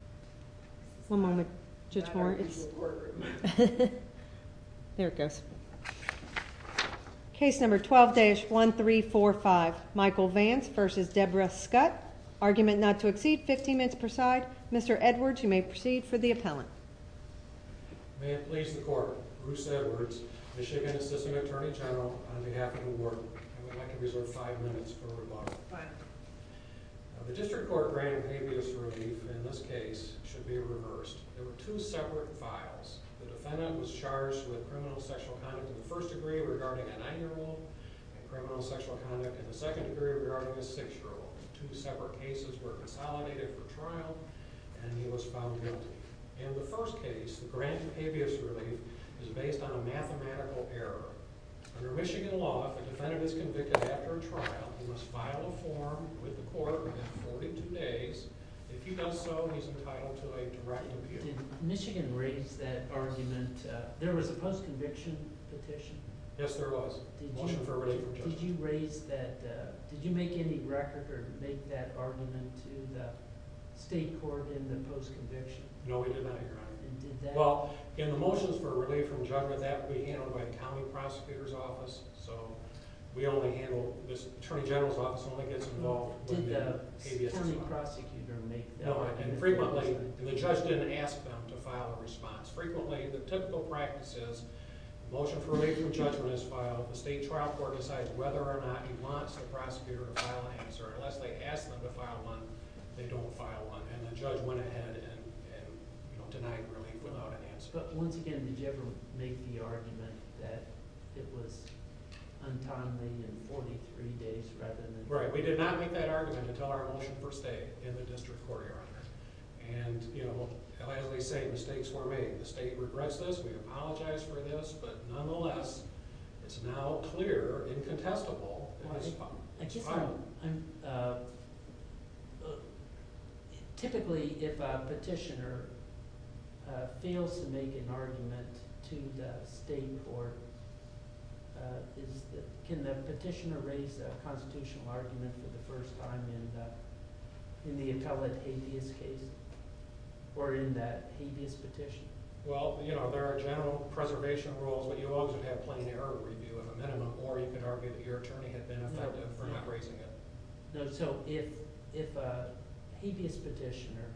15 minutes per side. Mr. Edwards, you may proceed for the appellant. May it please the court, Bruce Edwards, Michigan Assisting Attorney General, on behalf of the board, I would like to resort five minutes for rebuttal. The district court granted habeas relief in this case. The case should be reversed. There were two separate files. The defendant was charged with criminal sexual conduct in the first degree regarding a nine-year-old and criminal sexual conduct in the second degree regarding a six-year-old. Two separate cases were consolidated for trial, and he was found guilty. In the first case, the grant of habeas relief is based on a mathematical error. Under Michigan law, if a defendant is convicted after a trial, he must file a form with the court within 42 days. If he does so, he is entitled to a direct appeal. Did Michigan raise that argument? There was a post-conviction petition. Yes, there was. Motion for relief from judgment. Did you raise that? Did you make any record or make that argument to the state court in the post-conviction? No, we did not, Your Honor. Well, in the motions for relief from judgment, that would be handled by the state court. Did the attorney prosecutor make that argument? No, and frequently, the judge didn't ask them to file a response. Frequently, the typical practice is the motion for relief from judgment is filed, the state trial court decides whether or not he wants the prosecutor to file an answer. Unless they ask them to file one, they don't file one, and the judge went ahead and denied relief without an answer. But once again, did you ever make the argument that it was untimely in 43 days rather than... Right, we did not make that argument until our motion for state in the district court, Your Honor. And, you know, as we say, mistakes were made. The state regrets this, we apologize for this, but nonetheless, it's now clear and contestable. Typically, if a petitioner fails to make an argument to the state court, can the petitioner raise a constitutional argument for the first time in the appellate habeas case or in that habeas petition? Well, you know, there are general preservation rules, but you always would have plain error review as a minimum, or you could argue that your attorney had been effective for not raising it. No, so if a habeas petitioner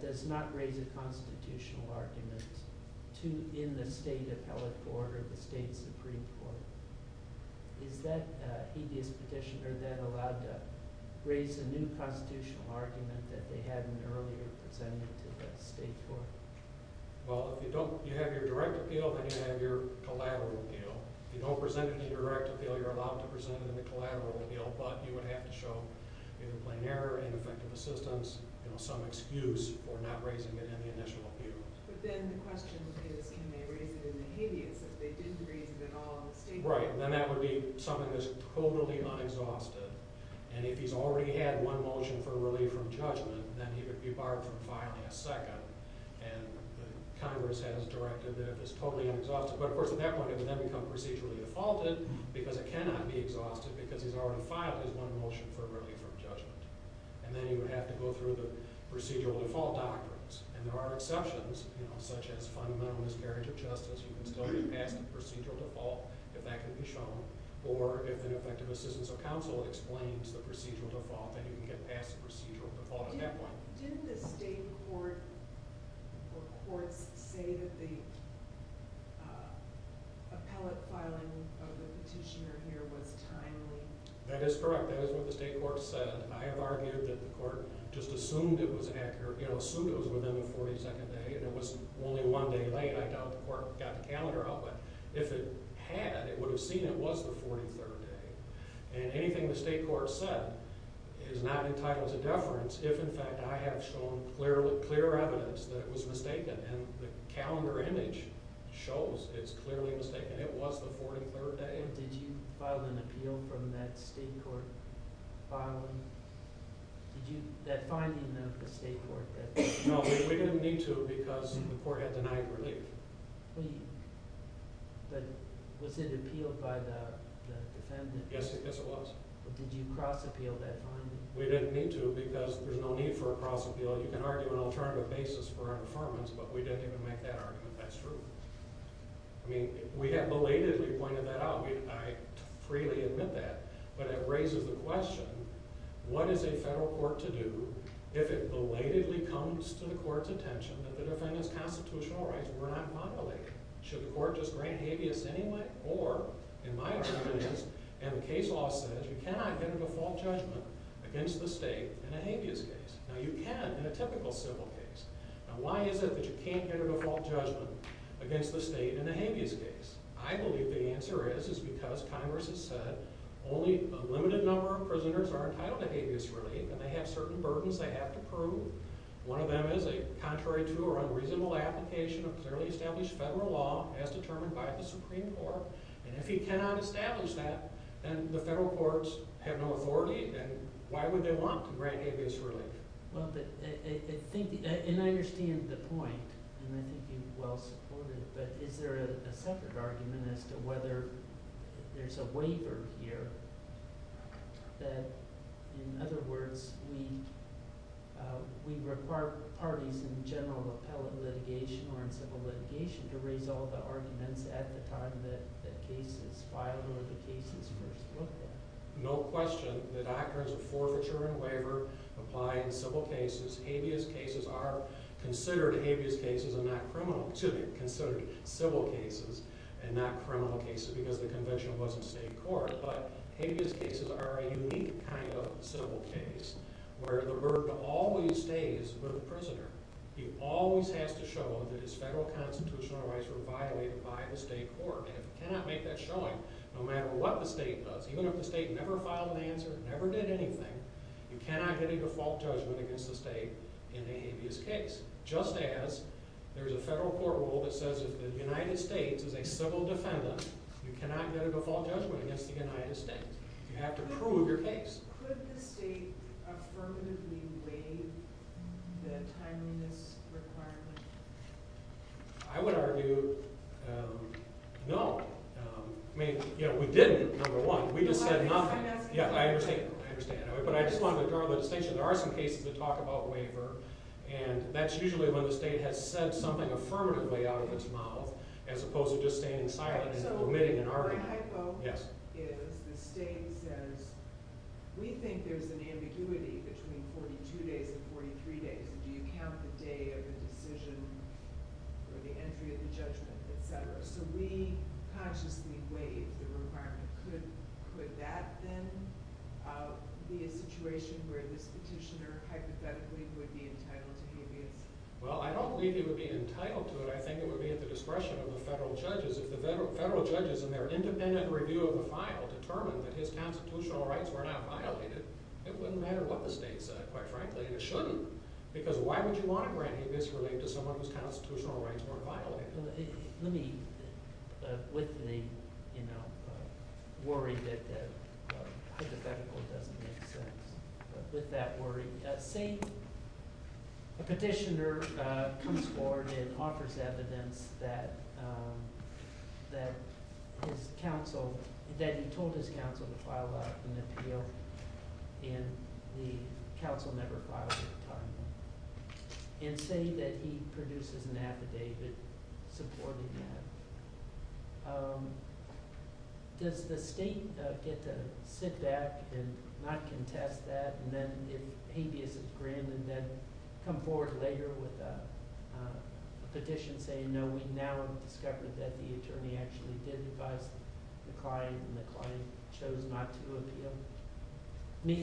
does not raise a constitutional argument in the state appellate court or the state supreme court, is that a habeas petitioner that allowed to raise a new constitutional argument that they hadn't earlier presented to the state court? Well, if you have your direct appeal, then you have your collateral appeal, but you would have to show either plain error, ineffective assistance, some excuse for not raising it in the initial appeal. But then the question is, can they raise it in the habeas if they didn't raise it at all in the state court? Right, then that would be something that's totally unexhausted, and if he's already had one motion for relief from judgment, then he would be barred from filing a second, and Congress has directed that it's totally unexhausted, but of course at that point it would then become procedurally defaulted because it cannot be exhausted because he's already filed his one motion for relief from judgment. And then you would have to go through the procedural default doctrines, and there are exceptions, you know, such as fundamental miscarriage of justice, you can still get past the procedural default if that can be shown, or if ineffective assistance of counsel explains the procedural default, then you can get past the procedural default at that point. Did the state court or courts say that the appellate filing of the petitioner here was timely? That is correct, that is what the state court said. I have argued that the court just assumed it was within the 42nd day, and it was only one day late, I doubt the court got the calendar out, but if it had, it would have seen it was the 43rd day. And anything the state court said is not entitled to deference if in fact I have shown clear evidence that it was mistaken, and the calendar image shows it's clearly mistaken, it was the 43rd day. Did you file an appeal from that state court filing? No, we didn't need to because the court had denied relief. But was it appealed by the defendant? Yes, it was. But did you cross appeal that filing? We didn't need to because there's no need for a cross appeal, you can argue an alternative basis for our performance, but we didn't even make that argument, that's true. I mean, we had belatedly pointed that out, I freely admit that, but it raises the question, what is a federal court to do if it belatedly comes to the court's attention that the defendant's constitutional rights were not populated? Should the court just grant habeas anyway? Or, in my opinion, and the case law says you cannot get a default judgment against the state in a habeas case. Now you can in a typical civil case. Now why is it that you can't get a default judgment against the state in a habeas case? I believe the answer is because Congress has said only a limited number of prisoners are entitled to habeas relief, and they have certain burdens they have to prove. One of them is a contrary to or unreasonable application of clearly established federal law as determined by the Supreme Court, and if you cannot establish that, then the federal courts have no authority, and why would they want to grant habeas relief? And I understand the point, and I think you well supported it, but is there a separate argument as to whether there's a waiver here that, in other words, we require parties in general appellate litigation or in civil litigation to raise all the arguments at the time that the case is filed or the case is first looked at? No question. The doctrines of forfeiture and waiver apply in civil cases. Habeas cases are considered habeas cases and not criminal, excuse me, considered civil cases and not criminal cases because the convention wasn't state court, but habeas cases are a unique kind of civil case where the burden always stays with the prisoner. He always has to show that his federal constitutional rights were violated by the state court, and if you cannot make that showing, no matter what the state does, even if the state never filed an answer, never did anything, you cannot get a default judgment against the state in a habeas case, just as there's a federal court rule that says if the United States is a civil defendant, you cannot get a default judgment against the United States. You have to prove your case. Could the state affirmatively waive the timeliness requirement? I would argue no. We didn't, number one. We just said nothing. I understand. But I just wanted to draw the distinction. There are some cases that talk about waiver, and that's usually when the state has said something affirmatively out of its mouth as opposed to just standing silent and omitting an argument. My hypo is the state says, we think there's an ambiguity between 42 days and 43 days. Do you count the day of the decision or the entry of the judgment, etc.? So we consciously waive the requirement. Could that then be a situation where this petitioner hypothetically would be entitled to habeas? Well, I don't believe he would be entitled to it. I think it would be at the discretion of the federal judges. If the federal judges in their independent review of the file determined that his constitutional rights were not violated, it wouldn't matter what the state said, quite frankly, and it shouldn't. Because why would you want to grant habeas relief to someone whose constitutional rights weren't violated? Let me, with the worry that hypothetical doesn't make sense, with that worry, say a petitioner comes forward and offers evidence that his counsel, that he told his counsel to file an appeal and the counsel never filed it in time, and say that he produces an affidavit supporting that. Does the state get to sit back and not contest that, and then if habeas is granted, then come forward later with an affidavit saying that he did advise the client and the client chose not to appeal?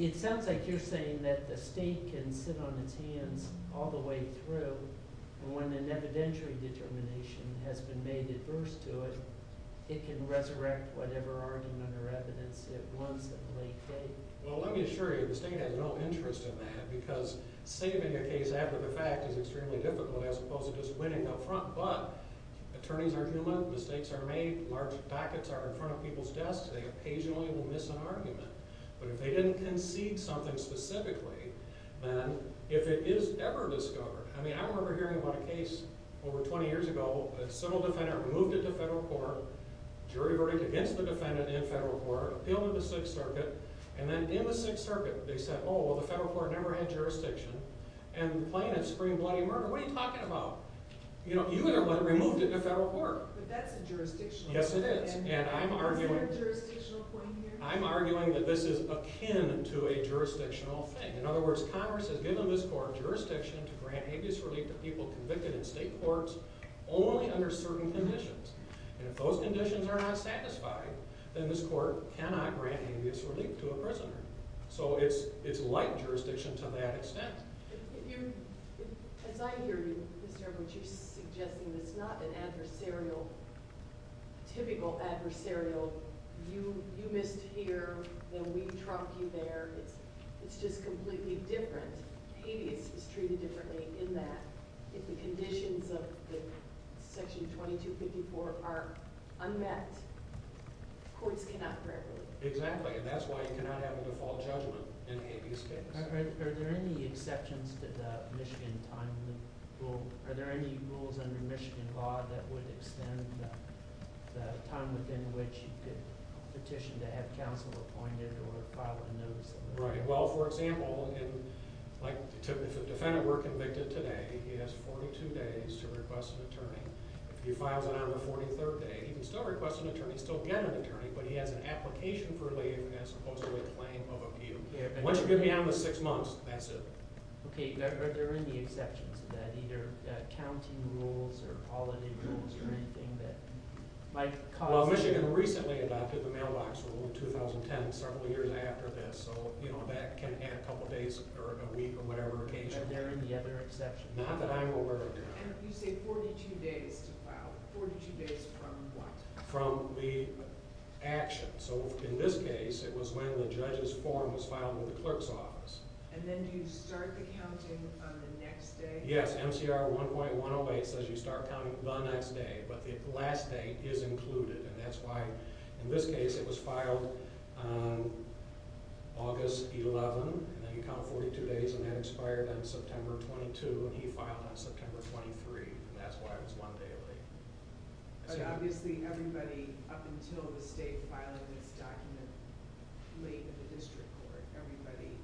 It sounds like you're saying that the state can sit on its hands all the way through and when an evidentiary determination has been made adverse to it, it can resurrect whatever argument or evidence it wants at a late date. Well, let me assure you, the state has no interest in that, because saving a case after the fact is extremely difficult as opposed to just winning up front, but attorneys are human, mistakes are made, large packets are in front of people's desks, they occasionally will miss an argument, but if they didn't concede something specifically, then if it is ever discovered, I mean, I remember hearing about a case over 20 years ago, a civil defendant moved into federal court, jury voted against the defendant in federal court, appealed in the 6th circuit, and then in the 6th court, never had jurisdiction, and the plaintiff screamed bloody murder. What are you talking about? You would have removed it in federal court. But that's a jurisdictional point. Yes, it is. Is there a jurisdictional point here? I'm arguing that this is akin to a jurisdictional thing. In other words, Congress has given this court jurisdiction to grant habeas relief to people convicted in state courts only under certain conditions, and if those conditions are not satisfied, then this court cannot grant habeas relief to a prisoner. So it's like jurisdiction to that extent. As I hear you, Mr. Edwards, you're suggesting it's not an adversarial, typical adversarial, you missed here, then we trumped you there, it's just completely different. Habeas is treated differently in that if the conditions of section 2254 are unmet, courts cannot grant relief. Exactly, and that's why you cannot have a default judgment in a habeas case. Are there any exceptions to the Michigan time limit rule? Are there any rules under Michigan law that would extend the time within which you could petition to have counsel appointed or file a notice? Right, well, for example, if a defendant were convicted today, he has 42 days to request an attorney. If he files it on the 43rd day, he can still request an attorney, still get an attorney, but he has an application for relief as opposed to a claim of abuse. Once you get beyond the six months, that's it. Okay, are there any exceptions to that, either county rules or holiday rules or anything that might cause... Well, Michigan recently adopted the mailbox rule in 2010, several years after this, so that can add a couple days or a week or whatever occasion. Are there any other exceptions? Not that I'm aware of. And you say 42 days to file, 42 days from what? From the action. So in this case, it was when the judge's form was filed with the clerk's office. And then do you start the counting on the next day? Yes, MCR 1.108 says you start counting the next day, but the last day is included. And that's why, in this case, it was filed August 11, and then you count 42 days, and that expired on September 22, and he filed on September 23. And that's why it was one day late. But obviously, everybody up until the state filed this document late in the district court, everybody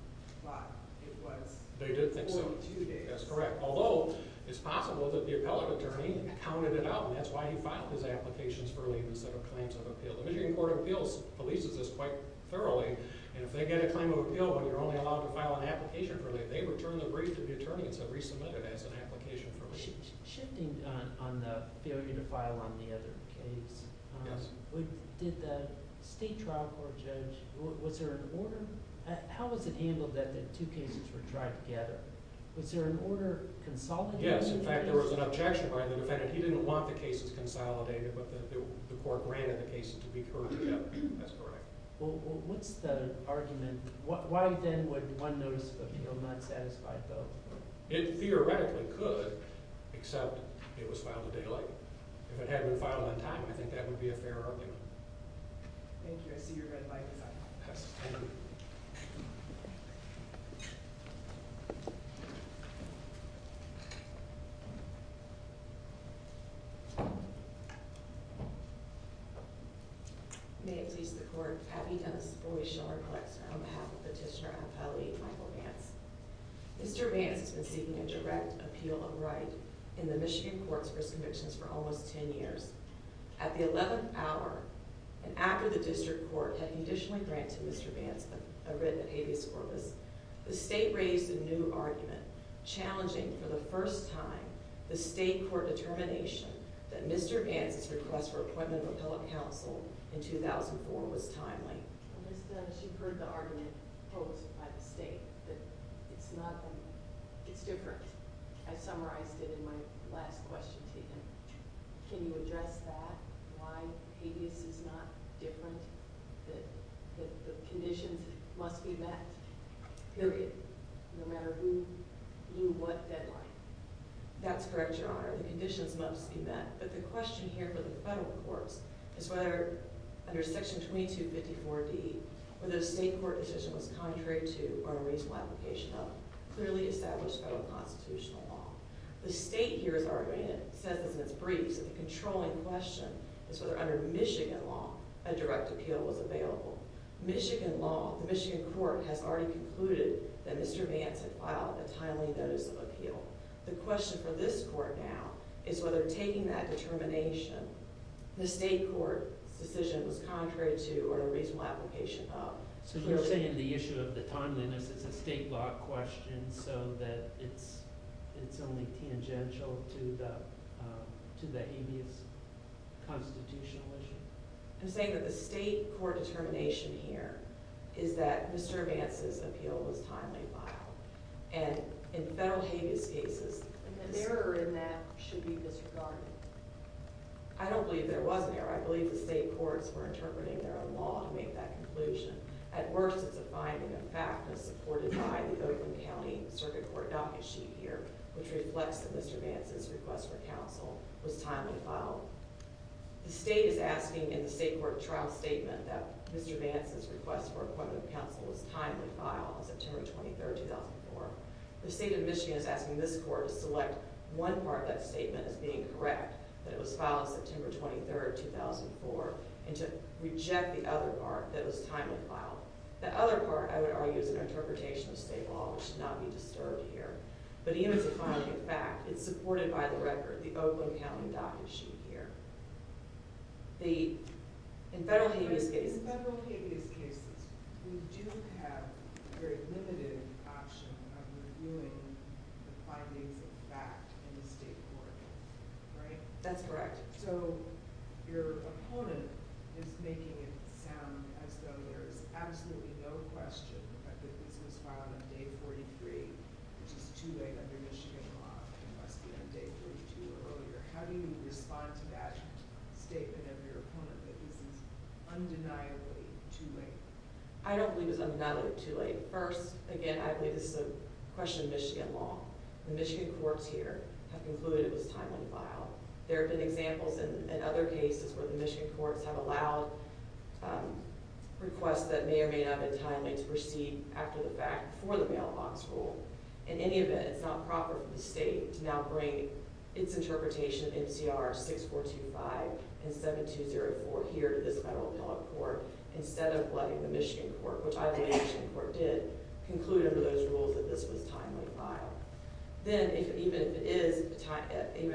thought it was 42 days. That's correct. Although, it's possible that the appellate attorney counted it out, and that's why he filed his applications for leave instead of claims of appeal. The Michigan Court of Appeals releases this quite thoroughly, and if they get a claim of appeal and you're only allowed to file an application for leave, they return the brief to the attorney and say resubmit it as an application for leave. Shifting on the failure to file on the other case, did the state trial court judge, was there an order? How was it handled that the two cases were tried together? Was there an order consolidated? Yes. In fact, there was an objection by the defendant. He didn't want the cases consolidated, but the court granted the cases to be heard together. That's correct. Well, what's the argument? Why, then, would one notice of appeal not satisfy both? It theoretically could, except it was not a fair argument. Thank you. I see your red light. May it please the court, Patty Dennis Boyd-Schor, on behalf of Petitioner Appellee Michael Vance. Mr. Vance has been seeking a direct appeal from the state. At the 11th hour, and after the district court had conditionally granted Mr. Vance a written habeas corpus, the state raised a new argument challenging for the first time the state court determination that Mr. Vance's request for appointment of appellate counsel in 2004 was timely. She heard the argument posed by the state, but it's not the case. The question here for the federal courts is whether, under section 2254D, whether the state court decision was contrary to our reasonable application of clearly established federal constitutional law. The state here is arguing, and it says this in its briefs, that the controlling question is whether under Michigan law a direct appeal was available. Michigan law, the Michigan court, has already concluded that Mr. Vance had filed a timely notice of appeal. The question for this court now is whether taking that determination, the state court's decision was contrary to or a reasonable application of clearly established federal constitutional law. I'm saying that the state court determination here is that Mr. Vance's appeal was timely filed. And in federal habeas cases, I don't believe there was an error. I believe the state courts were interpreting their own law to make that conclusion. At worst, it's a finding of factness supported by the Oakland County Circuit Court docket sheet here, which reflects that Mr. Vance's request for counsel was timely filed. The state is asking in the state court trial statement that Mr. Vance's request for appointment of counsel was timely filed on September 23, 2004. The state of Michigan is asking this court to select one part of that statement as being correct, that it was filed September 23, 2004, and to reject the other part that was timely filed. The other part, I would argue, is an interpretation of state law, which should not be disturbed here. But even if it's a finding of fact, it's supported by the record, the Oakland County docket sheet here. In federal habeas cases, we do have a very limited option of reviewing the findings of fact in the state court, right? That's correct. So your opponent is making it sound as though there is absolutely no question that this was filed on day 43, which is too late under Michigan law. It must be on day 32 or earlier. How do you respond to that statement of your opponent, that this is undeniably too late? I don't believe it's undeniably too late. First, again, I believe this is a question of Michigan law. The Michigan courts here have concluded it was timely filed. There have been examples in other cases where the Michigan courts have allowed requests that may or may not have been timely to proceed after the fact for the mailbox rule. In any event, it's not proper for the state to now bring its interpretation of NCR 6425 and 7204 here to this federal appellate court instead of letting the Michigan court, which I believe the Michigan court did, conclude under those rules that this was timely filed. Then, even if it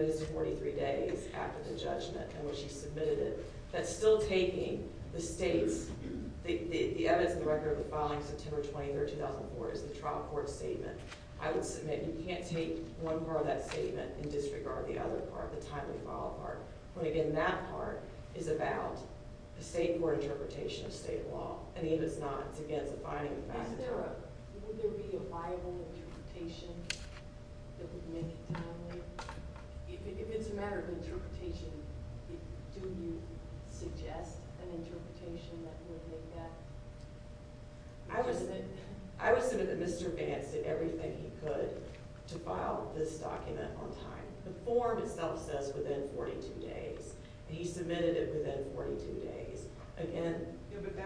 is 43 days after the judgment and when she submitted it, that's still taking the state's, the evidence in the record of the filing September 23, 2004 is the trial court statement. I would submit you can't take one part of that statement and disregard the other part, the timely file part, when, again, that part is about the state court interpretation of state law. If it's not, it's against the binding of the passage of the law. Would there be a viable interpretation that would make it timely? If it's a matter of interpretation, do you suggest an interpretation that would make that? I would submit that Mr. Vance did everything he could to file this document on time. The form itself says within 42 days, and he submitted it within 42 days. Again...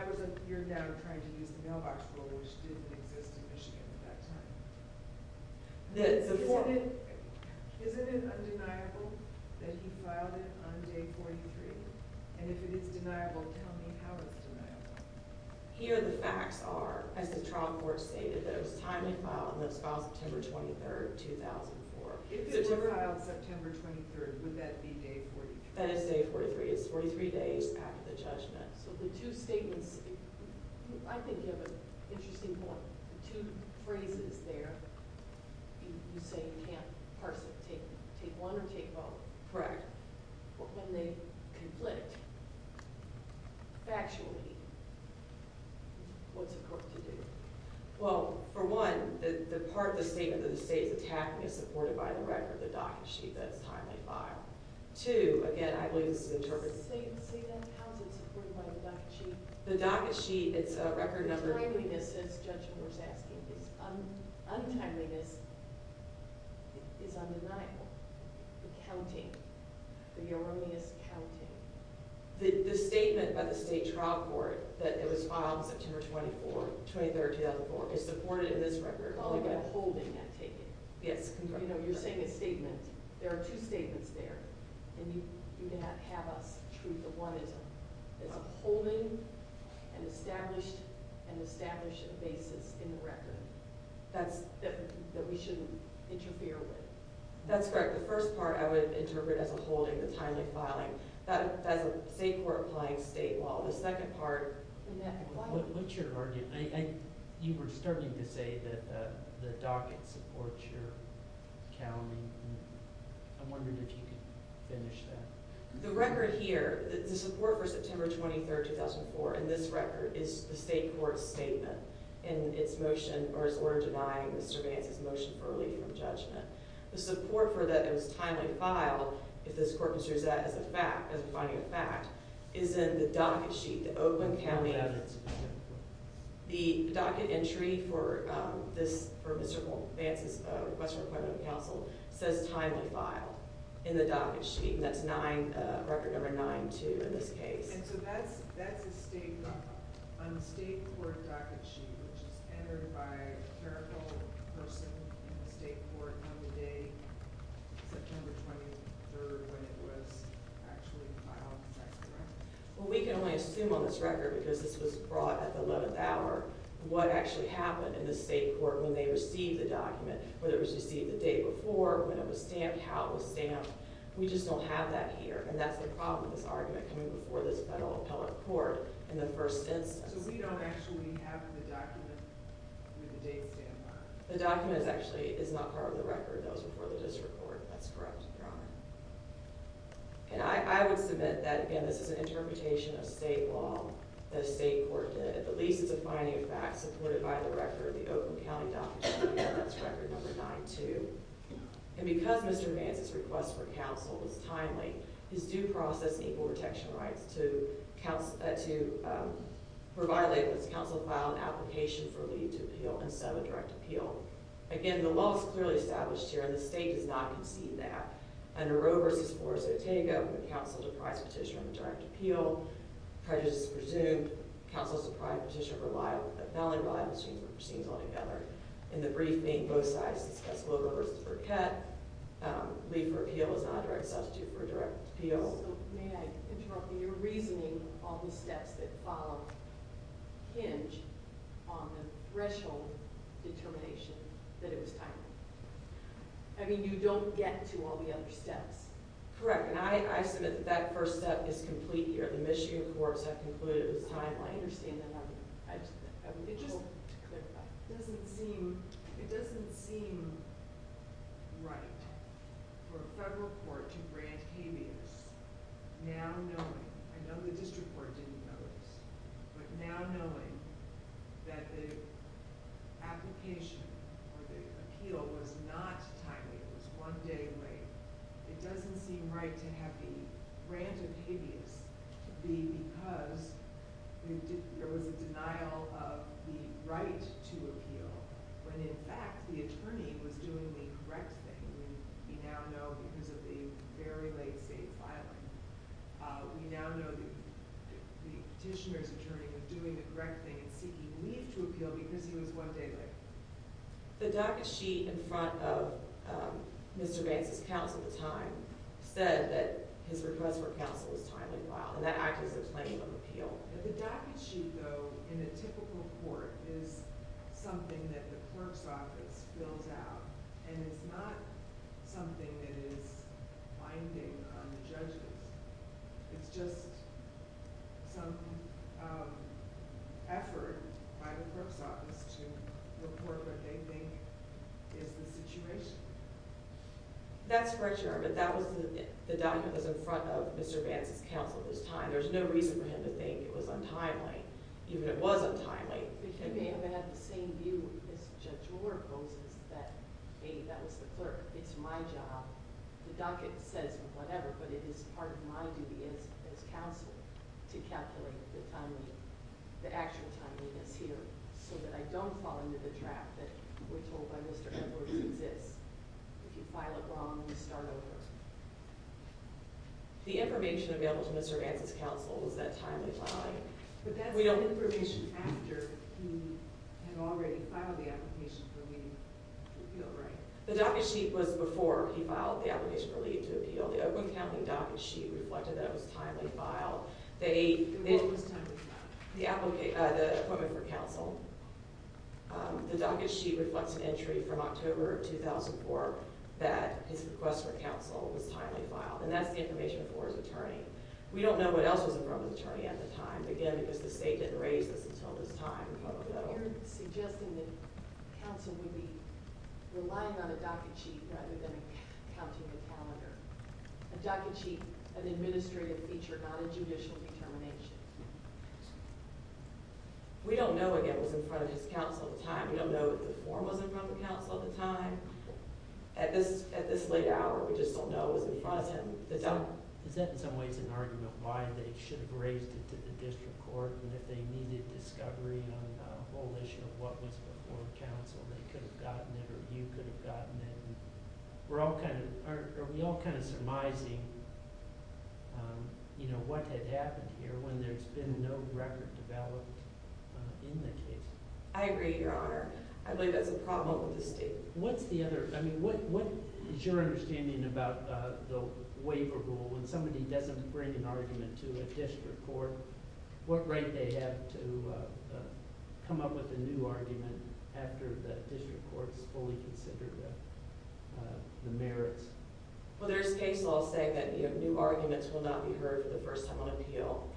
But you're now trying to use the mailbox rule, which didn't exist in Michigan at that time. Isn't it undeniable that he filed it on day 43? And if it is deniable, tell me how it's deniable. Here the facts are, as the trial court stated, that it was a timely file and that it was filed September 23, 2004. If it were filed September 23, would that be day 43? That is day 43. It's 43 days after the judgment. So the two statements, I think you have an interesting point. The two phrases there, you say you can't parse it, take one or take both. Correct. But when they conflict factually, what's a court to do? Well, for one, the part of the statement that the state is attacking is supported by the record, the docket sheet, that it's a timely file. Two, again, I believe this is interpreted... Say again, how is it supported by the docket sheet? The docket sheet, it's a record number. Untimeliness is undeniable. The counting, the erroneous counting. The statement by the state trial court that it was filed September 24, 2003, 2004, is supported in this record. You're calling it a holding, I take it? Yes. You're saying a statement. There are two statements there, and you can have us treat the one as a holding and establish a basis in the record that we shouldn't interfere with. That's correct. The first part I would interpret as a holding, a timely filing. That's a state court applying state law. The second part... What's your argument? You were starting to say that the docket supports your counting. I'm wondering if you could finish that. The record here, the support for September 23, 2004, in this record, is the state court's statement in its motion, or its order denying the surveillance's motion for relief from judgment. The support for that it was timely filed, if this court considers that as a finding of fact, is in the docket sheet, the open counting of... The docket entry for Mr. Vance's request for appointment of counsel says timely filed in the docket sheet, and that's record number 9-2 in this case. That's a state court docket sheet, which is entered by a clerical person in the state court on the day September 23rd, when it was actually filed. We can only assume on this record, because this was brought at the 11th hour, what actually happened in the state court when they received the document, whether it was received the day before, when it was stamped, how it was stamped. We just don't have that here, and that's the problem with this argument coming before this federal appellate court in the first instance. So we don't actually have the document with the date stamped on it? The document is actually... It's not part of the record. That was before the district court. That's correct, Your Honor. And I would submit that, again, this is an interpretation of state law that a state court did. At the least, it's a finding of fact supported by the record, the open counting docket sheet, and that's record number 9-2. And because Mr. Vance's request for counsel was timely, his due process and equal protection rights were violated when counsel filed an application for leave to appeal and sub a direct appeal. Again, the law is clearly established here, and the state does not concede that. Under Roe v. Flores-Otego, when counsel deprives petitioner of a direct appeal, prejudice is presumed, counsel is to provide petitioner with a felony liability, which seems to me to be the case here. So the reason for appeal is not a direct substitute for a direct appeal. So may I interrupt you? You're reasoning all the steps that follow hinge on the threshold determination that it was timely. I mean, you don't get to all the other steps. Correct. And I submit that that first step is complete here. The Michigan courts have concluded it was timely. I understand that. It just doesn't seem, it doesn't seem right for a federal court to grant habeas now knowing, I know the district court didn't know this, but now knowing that the application or the appeal was not timely, it was one day late, it doesn't seem right to have a denial of the right to appeal when in fact the attorney was doing the correct thing. We now know because of the very late state filing. We now know the petitioner's attorney was doing the correct thing and seeking leave to appeal because he was one day late. The docket sheet in front of Mr. Bates' counsel at the time said that his docket sheet, though, in a typical court is something that the clerk's office fills out, and it's not something that is binding on the judges. It's just some effort by the clerk's office to report what they think is the situation. That's correct, Your Honor, but that was the reason for him to think it was untimely, even if it was untimely. He may have had the same view as Judge Orr poses that, hey, that was the clerk, it's my job, the docket says whatever, but it is part of my duty as counsel to calculate the actual timeliness here so that I don't fall into the trap that we're told by Mr. Edwards exists. If you file it wrong, you start over. The information available to Mr. Bates' counsel was that timely filing. But that's information after he had already filed the application for leave to appeal, right? The docket sheet was before he filed the application for leave to appeal. The Oakland County docket sheet reflected that it was a timely file. What was timely file? The appointment for counsel. The docket sheet reflects an entry from October of 2004 that his request for counsel was timely file, and that's the information for his attorney. We don't know what else was in front of the attorney at the time, again, because the state didn't raise this until this time. But you're suggesting that counsel would be relying on a docket sheet rather than counting the calendar. A docket sheet, an administrative feature, not a judicial determination. We don't know, again, what was in front of his counsel at the time. We don't know if the form was in front of the counsel at the time. At this late hour, we just don't know what was in front of him. Is that, in some ways, an argument why they should have raised it to the district court and if they needed discovery on the whole issue of what was before counsel, they could have gotten it or you could have gotten it? Are we all kind of surmising what had happened here when there's been no record developed in the case? I agree, Your Honor. I believe that's a problem with the state. What is your understanding about the waiver rule? When somebody doesn't bring an argument to a district court, what right do they have to come up with a new argument after the district court has fully considered the merits? Well, there's case law saying that new arguments will not be heard for the first time on appeal.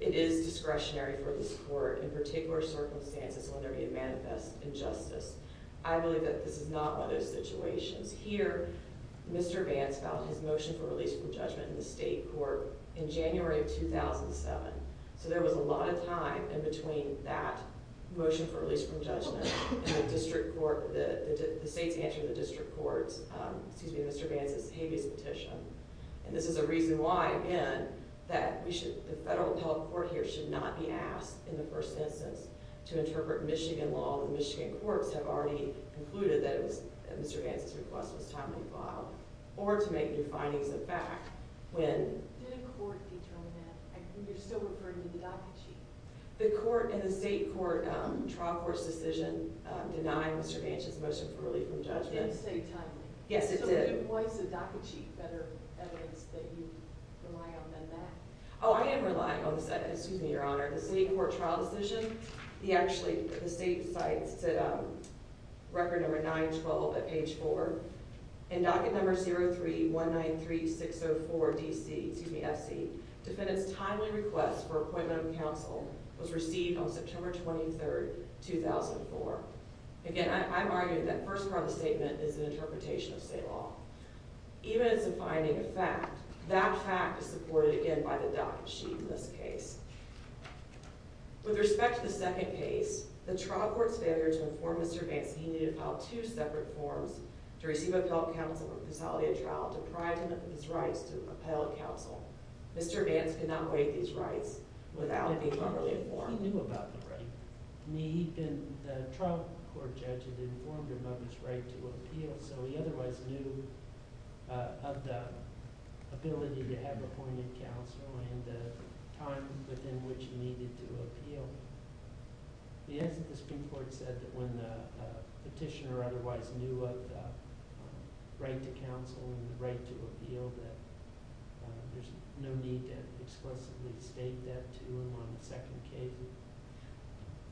It is discretionary for this court, in particular circumstances, when there be a manifest injustice. I believe that this is not one of those situations. Here, Mr. Vance filed his motion for release from judgment in the state court in January of 2007, so there was a lot of time in between that motion for release from judgment and the state's answer to the district court's, excuse me, Mr. Vance's habeas petition. This is a reason why, again, that the federal appellate court here should not be asked in the first instance to interpret Michigan law when Michigan courts have already concluded that Mr. Vance's request was timely filed, or to make new findings of fact when... Did a court determine that? You're still referring to the DACA chief. The state court trial court's decision denied Mr. Vance's motion for release from judgment. Did it say timely? Yes, it did. So it implies the DACA chief better evidence that you rely on than that? Oh, I am relying on the, excuse me, Your Honor, the state court trial decision. The, actually, the state cites record number 912 at page 4. In docket number 03-193-604-DC, excuse me, FC, defendant's timely request for appointment of counsel was received on September 23, 2004. Again, I'm arguing that first part of the statement is an interpretation of state law. Even as a finding of fact, that fact is supported again by the DACA chief in this case. With respect to the second case, the trial court's failure to inform Mr. Vance that he needed to file two separate forms to receive appellate counsel for fatality of trial deprived him of his rights to appellate counsel. Mr. Vance could not waive these rights without being properly informed. He knew about the right. He'd been, the trial court judge had informed him of his right to appeal, so he otherwise knew of the ability to have appointed counsel and the time within which he needed to appeal. The answer to the Supreme Court said that when the petitioner otherwise knew of the right to counsel and the right to appeal, that there's no need to explicitly state that to him on the second case.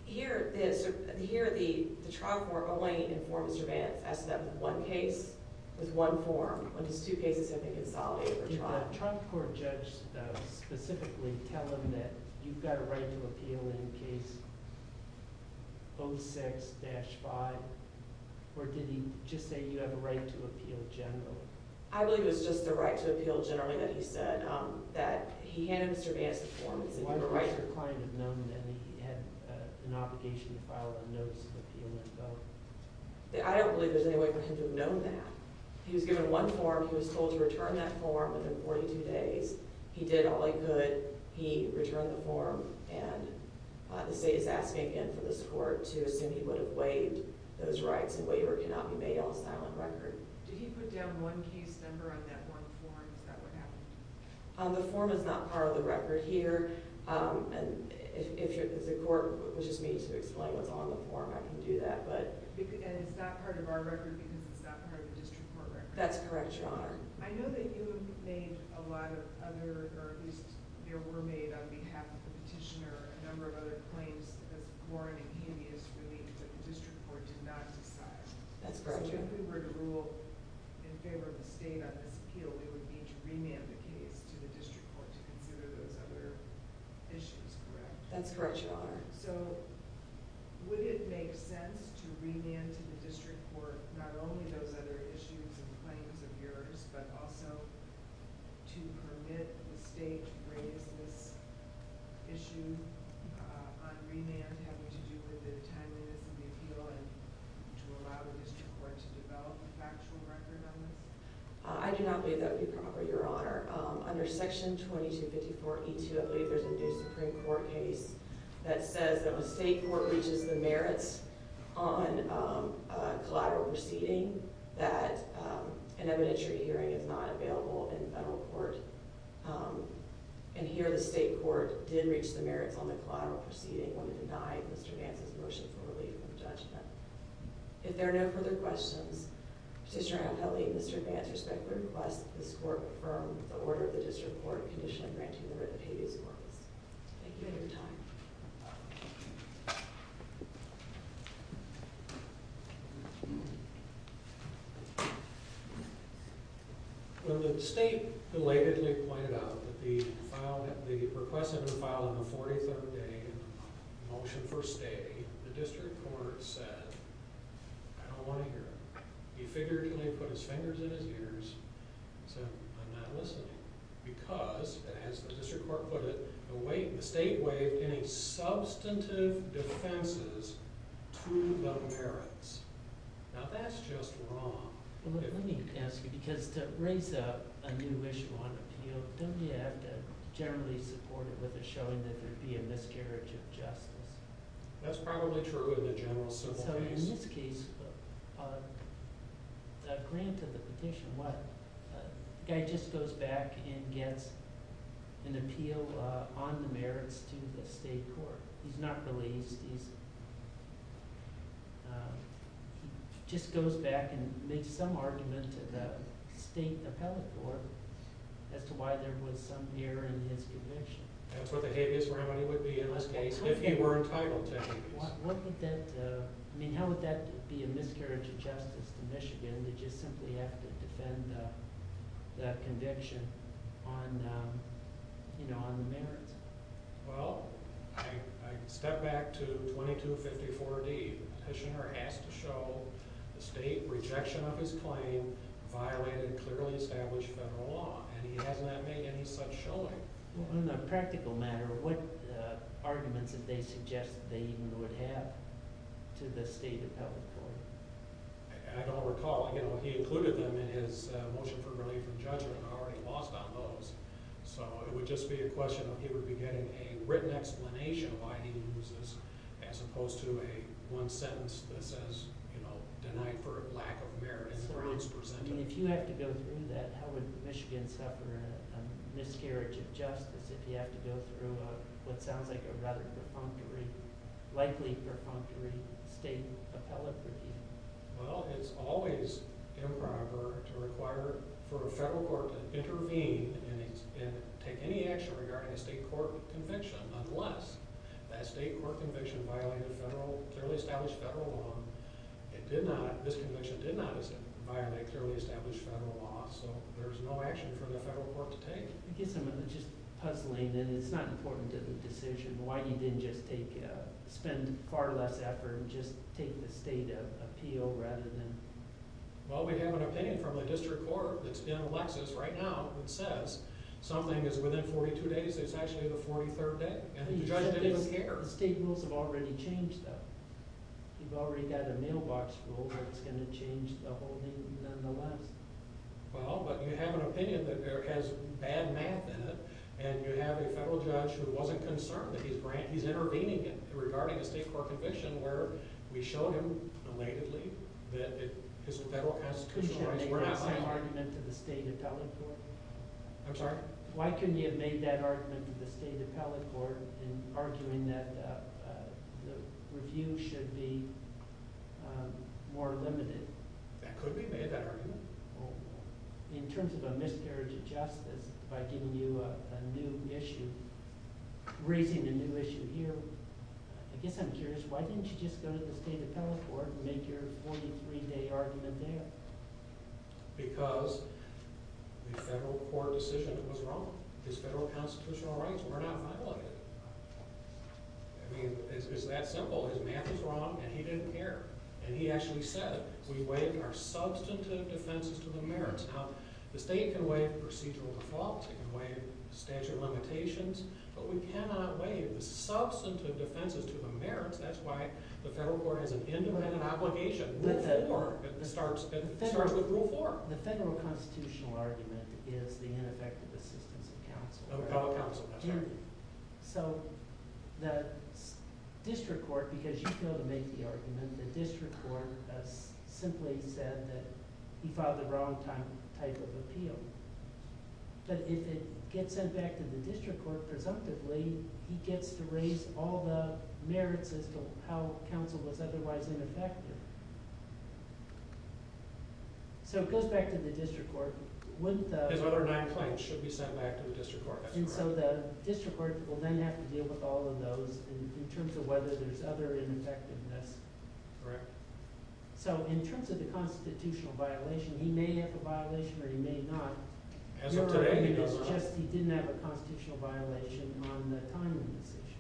Here the trial court only informed Mr. Vance as to that one case with one form, when his two cases had been consolidated for trial. Did the trial court judge specifically tell him that you've got a right to appeal in case 06-5, or did he just say you have a right to appeal generally? I believe it was just the right to appeal generally that he said. He handed Mr. Vance the form. I don't believe there's any way for him to have known that. He was given one form. He was told to return that form within 42 days. He did all he could. He returned the form and the state is asking again for this court to assume he would have waived those rights and if he put down one case number on that one form, is that what happened? The form is not part of the record here. If the court was just meeting to explain what's on the form, I can do that. And it's not part of our record because it's not part of the district court record? That's correct, Your Honor. I know that you made a lot of other, or at least there were made on behalf of the petitioner, a number of other claims as foreign and hideous beliefs that the district court did not decide. That's correct. So if we were to rule in favor of the state on this appeal, it would be to remand the case to the district court to consider those other issues, correct? That's correct, Your Honor. So would it make sense to remand to the district court not only those other issues and claims of yours, but also to permit the state to raise this issue on remand having to do with the timeliness of the appeal and to allow the district court to develop a factual record on this? I do not believe that would be proper, Your Honor. Under Section 2254E2, I believe there's a new Supreme Court case that says that when state court reaches the merits on collateral receding, that an evidentiary hearing is not available in federal court. And here the state court did reach the merits on the collateral proceeding when it denied Mr. Vance's motion for relief from judgment. If there are no further questions, Petitioner Anthony and Mr. Vance respectfully request that this court confirm the order of the district court in condition of granting the writ of habeas corpus. Thank you for your time. When the state belatedly pointed out that the request had been filed on the 43rd day in the motion for stay, the district court said, I don't want to hear it. He figuratively put his fingers in his ears and said, I'm not listening. Because, as the district court put it, the state waived any substantive defenses to the merits. Now that's just wrong. Let me ask you, because to raise a new issue on appeal, don't you have to generally support it with showing that there would be a miscarriage of justice? That's probably true in the general simple case. So in this case, granted the petition, the guy just goes back and gets an appeal on the 43rd day. He just goes back and makes some argument to the state appellate court as to why there was some error in his conviction. That's what the habeas remedy would be in this case, if he were entitled to habeas. How would that be a miscarriage of justice to Michigan, that you simply have to defend that conviction on the merits? Well, I step back to 2254D. Petitioner asked to show the state rejection of his claim violated clearly established federal law. And he hasn't made any such showing. In a practical matter, what arguments did they suggest they even would have to the state appellate court? I don't recall. He included them in his motion for relief from judgment and already lost on those. So it would just be a question of he would be getting a written explanation of why he loses, as opposed to one sentence that says, denied for lack of merit. If you have to go through that, how would Michigan suffer a miscarriage of justice if you have to go through what sounds like a rather perfunctory, likely perfunctory state appellate review? Well, it's always improper to require for a federal court to intervene and take any action regarding a state court conviction, unless that state court conviction violated clearly established federal law. This conviction did not violate clearly established federal law, so there's no action for the federal court to take. I guess I'm just puzzling, and it's not important to the decision, why he didn't just take, spend far less effort and just take the state appeal rather than... Well, we have an opinion from the district court that's in Lexis right now that says something is within 42 days, it's actually the 43rd day, and the judge didn't care. The state rules have already changed, though. You've already got a mailbox rule that's going to change the whole thing nonetheless. Well, but you have an opinion that has bad math in it, and you have a federal judge who wasn't concerned that he's intervening regarding a state court conviction where we showed him belatedly that his federal constitutional rights were not violated. Could you have made that same argument to the state appellate court? I'm sorry? Why couldn't you have made that argument to the state appellate court in arguing that the review should be more limited? That could be made, that argument. In terms of a miscarriage of justice, by giving you a new issue, raising a new issue here, I guess I'm curious, why didn't you just go to the state appellate court and make your 43-day argument there? Because the federal court decision was wrong. His federal constitutional rights were not violated. I mean, it's that simple. His math is wrong, and he didn't care. And he actually said, we waive our substantive defenses to the merits. Now, the state can waive procedural defaults, it can waive statute of limitations, but we cannot waive the substantive defenses to the merits. That's why the federal court has an independent obligation. Rule 4 starts with Rule 4. The federal constitutional argument is the ineffective assistance of counsel. So the district court, because you go to make the argument, the district court simply said that he filed the wrong type of appeal. But if it gets sent back to the district court, presumptively, he gets to raise all the merits as to how counsel was otherwise ineffective. So it goes back to the district court. His other nine claims should be sent back to the district court. And so the district court will then have to deal with all of those in terms of whether there's other ineffectiveness. So in terms of the constitutional violation, he may have a violation or he may not. Your argument is just he didn't have a constitutional violation on the time of the decision.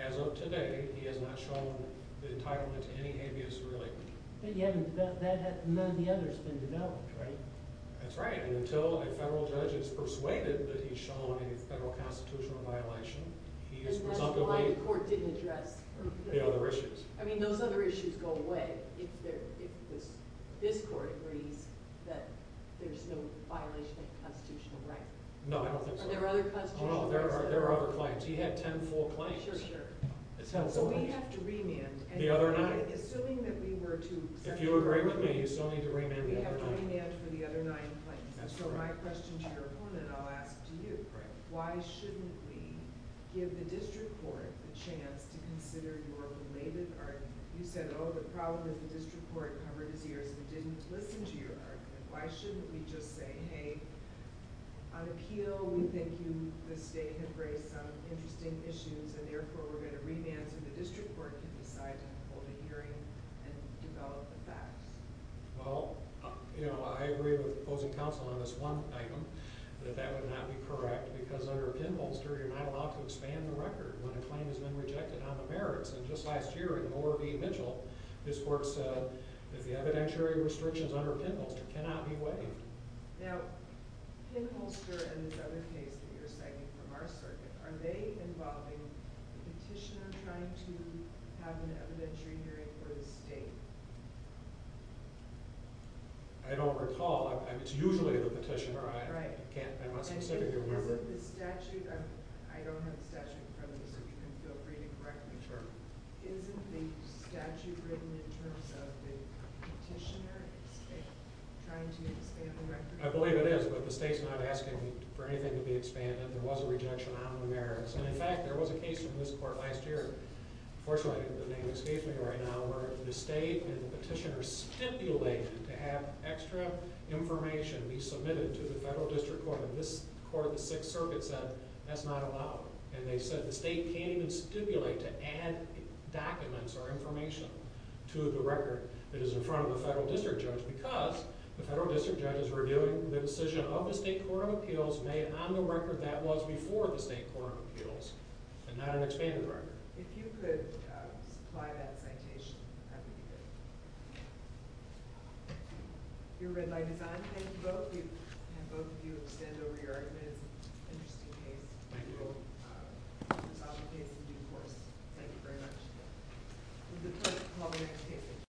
As of today, he has not shown the entitlement to any habeas relief. But none of the others have been developed, right? That's right. And until a federal judge is persuaded that he's shown a federal constitutional violation, he is presumptively... And that's why the court didn't address the other issues. I mean, those other issues go away if this court agrees that there's no violation of constitutional rights. No, I don't think so. He had ten full claims. If you agree with me, you still need to remand the other nine. So my question to your opponent, I'll ask to you. Why shouldn't we give the district court a chance to consider your related argument? You said, oh, the problem is the district court covered his ears and didn't listen to your argument. Why shouldn't we just say, hey, on appeal, we think you this day have raised some interesting issues and therefore we're going to remand so the district court can decide to hold a hearing and develop the facts? Well, I agree with the opposing counsel on this one item, that that would not be correct. Because under pinholster, you're not allowed to expand the record when a claim has been rejected on the merits. And just last year in the ORB vigil, this court said that the evidentiary restrictions under pinholster cannot be waived. Now, pinholster and this other case that you're citing from our circuit, are they involving the petitioner trying to have an evidentiary hearing for the state? I don't recall. It's usually the petitioner. I don't have the statute in front of me, so if you can feel free to correct me. Isn't the statute written in terms of the petitioner trying to expand the record? I believe it is, but the state's not asking for anything to be expanded. And in fact, there was a case from this court last year, where the state and the petitioner stipulated to have extra information be submitted to the federal district court, and this court of the 6th circuit said that's not allowed. And they said the state can't even stipulate to add documents or information to the record that is in front of the federal district judge because the federal district judge is reviewing the decision of the state court of appeals made on the record that was before the state court of appeals, and not an expanded record. If you could supply that citation, that would be good. Your red light is on. Thank you both. Thank you.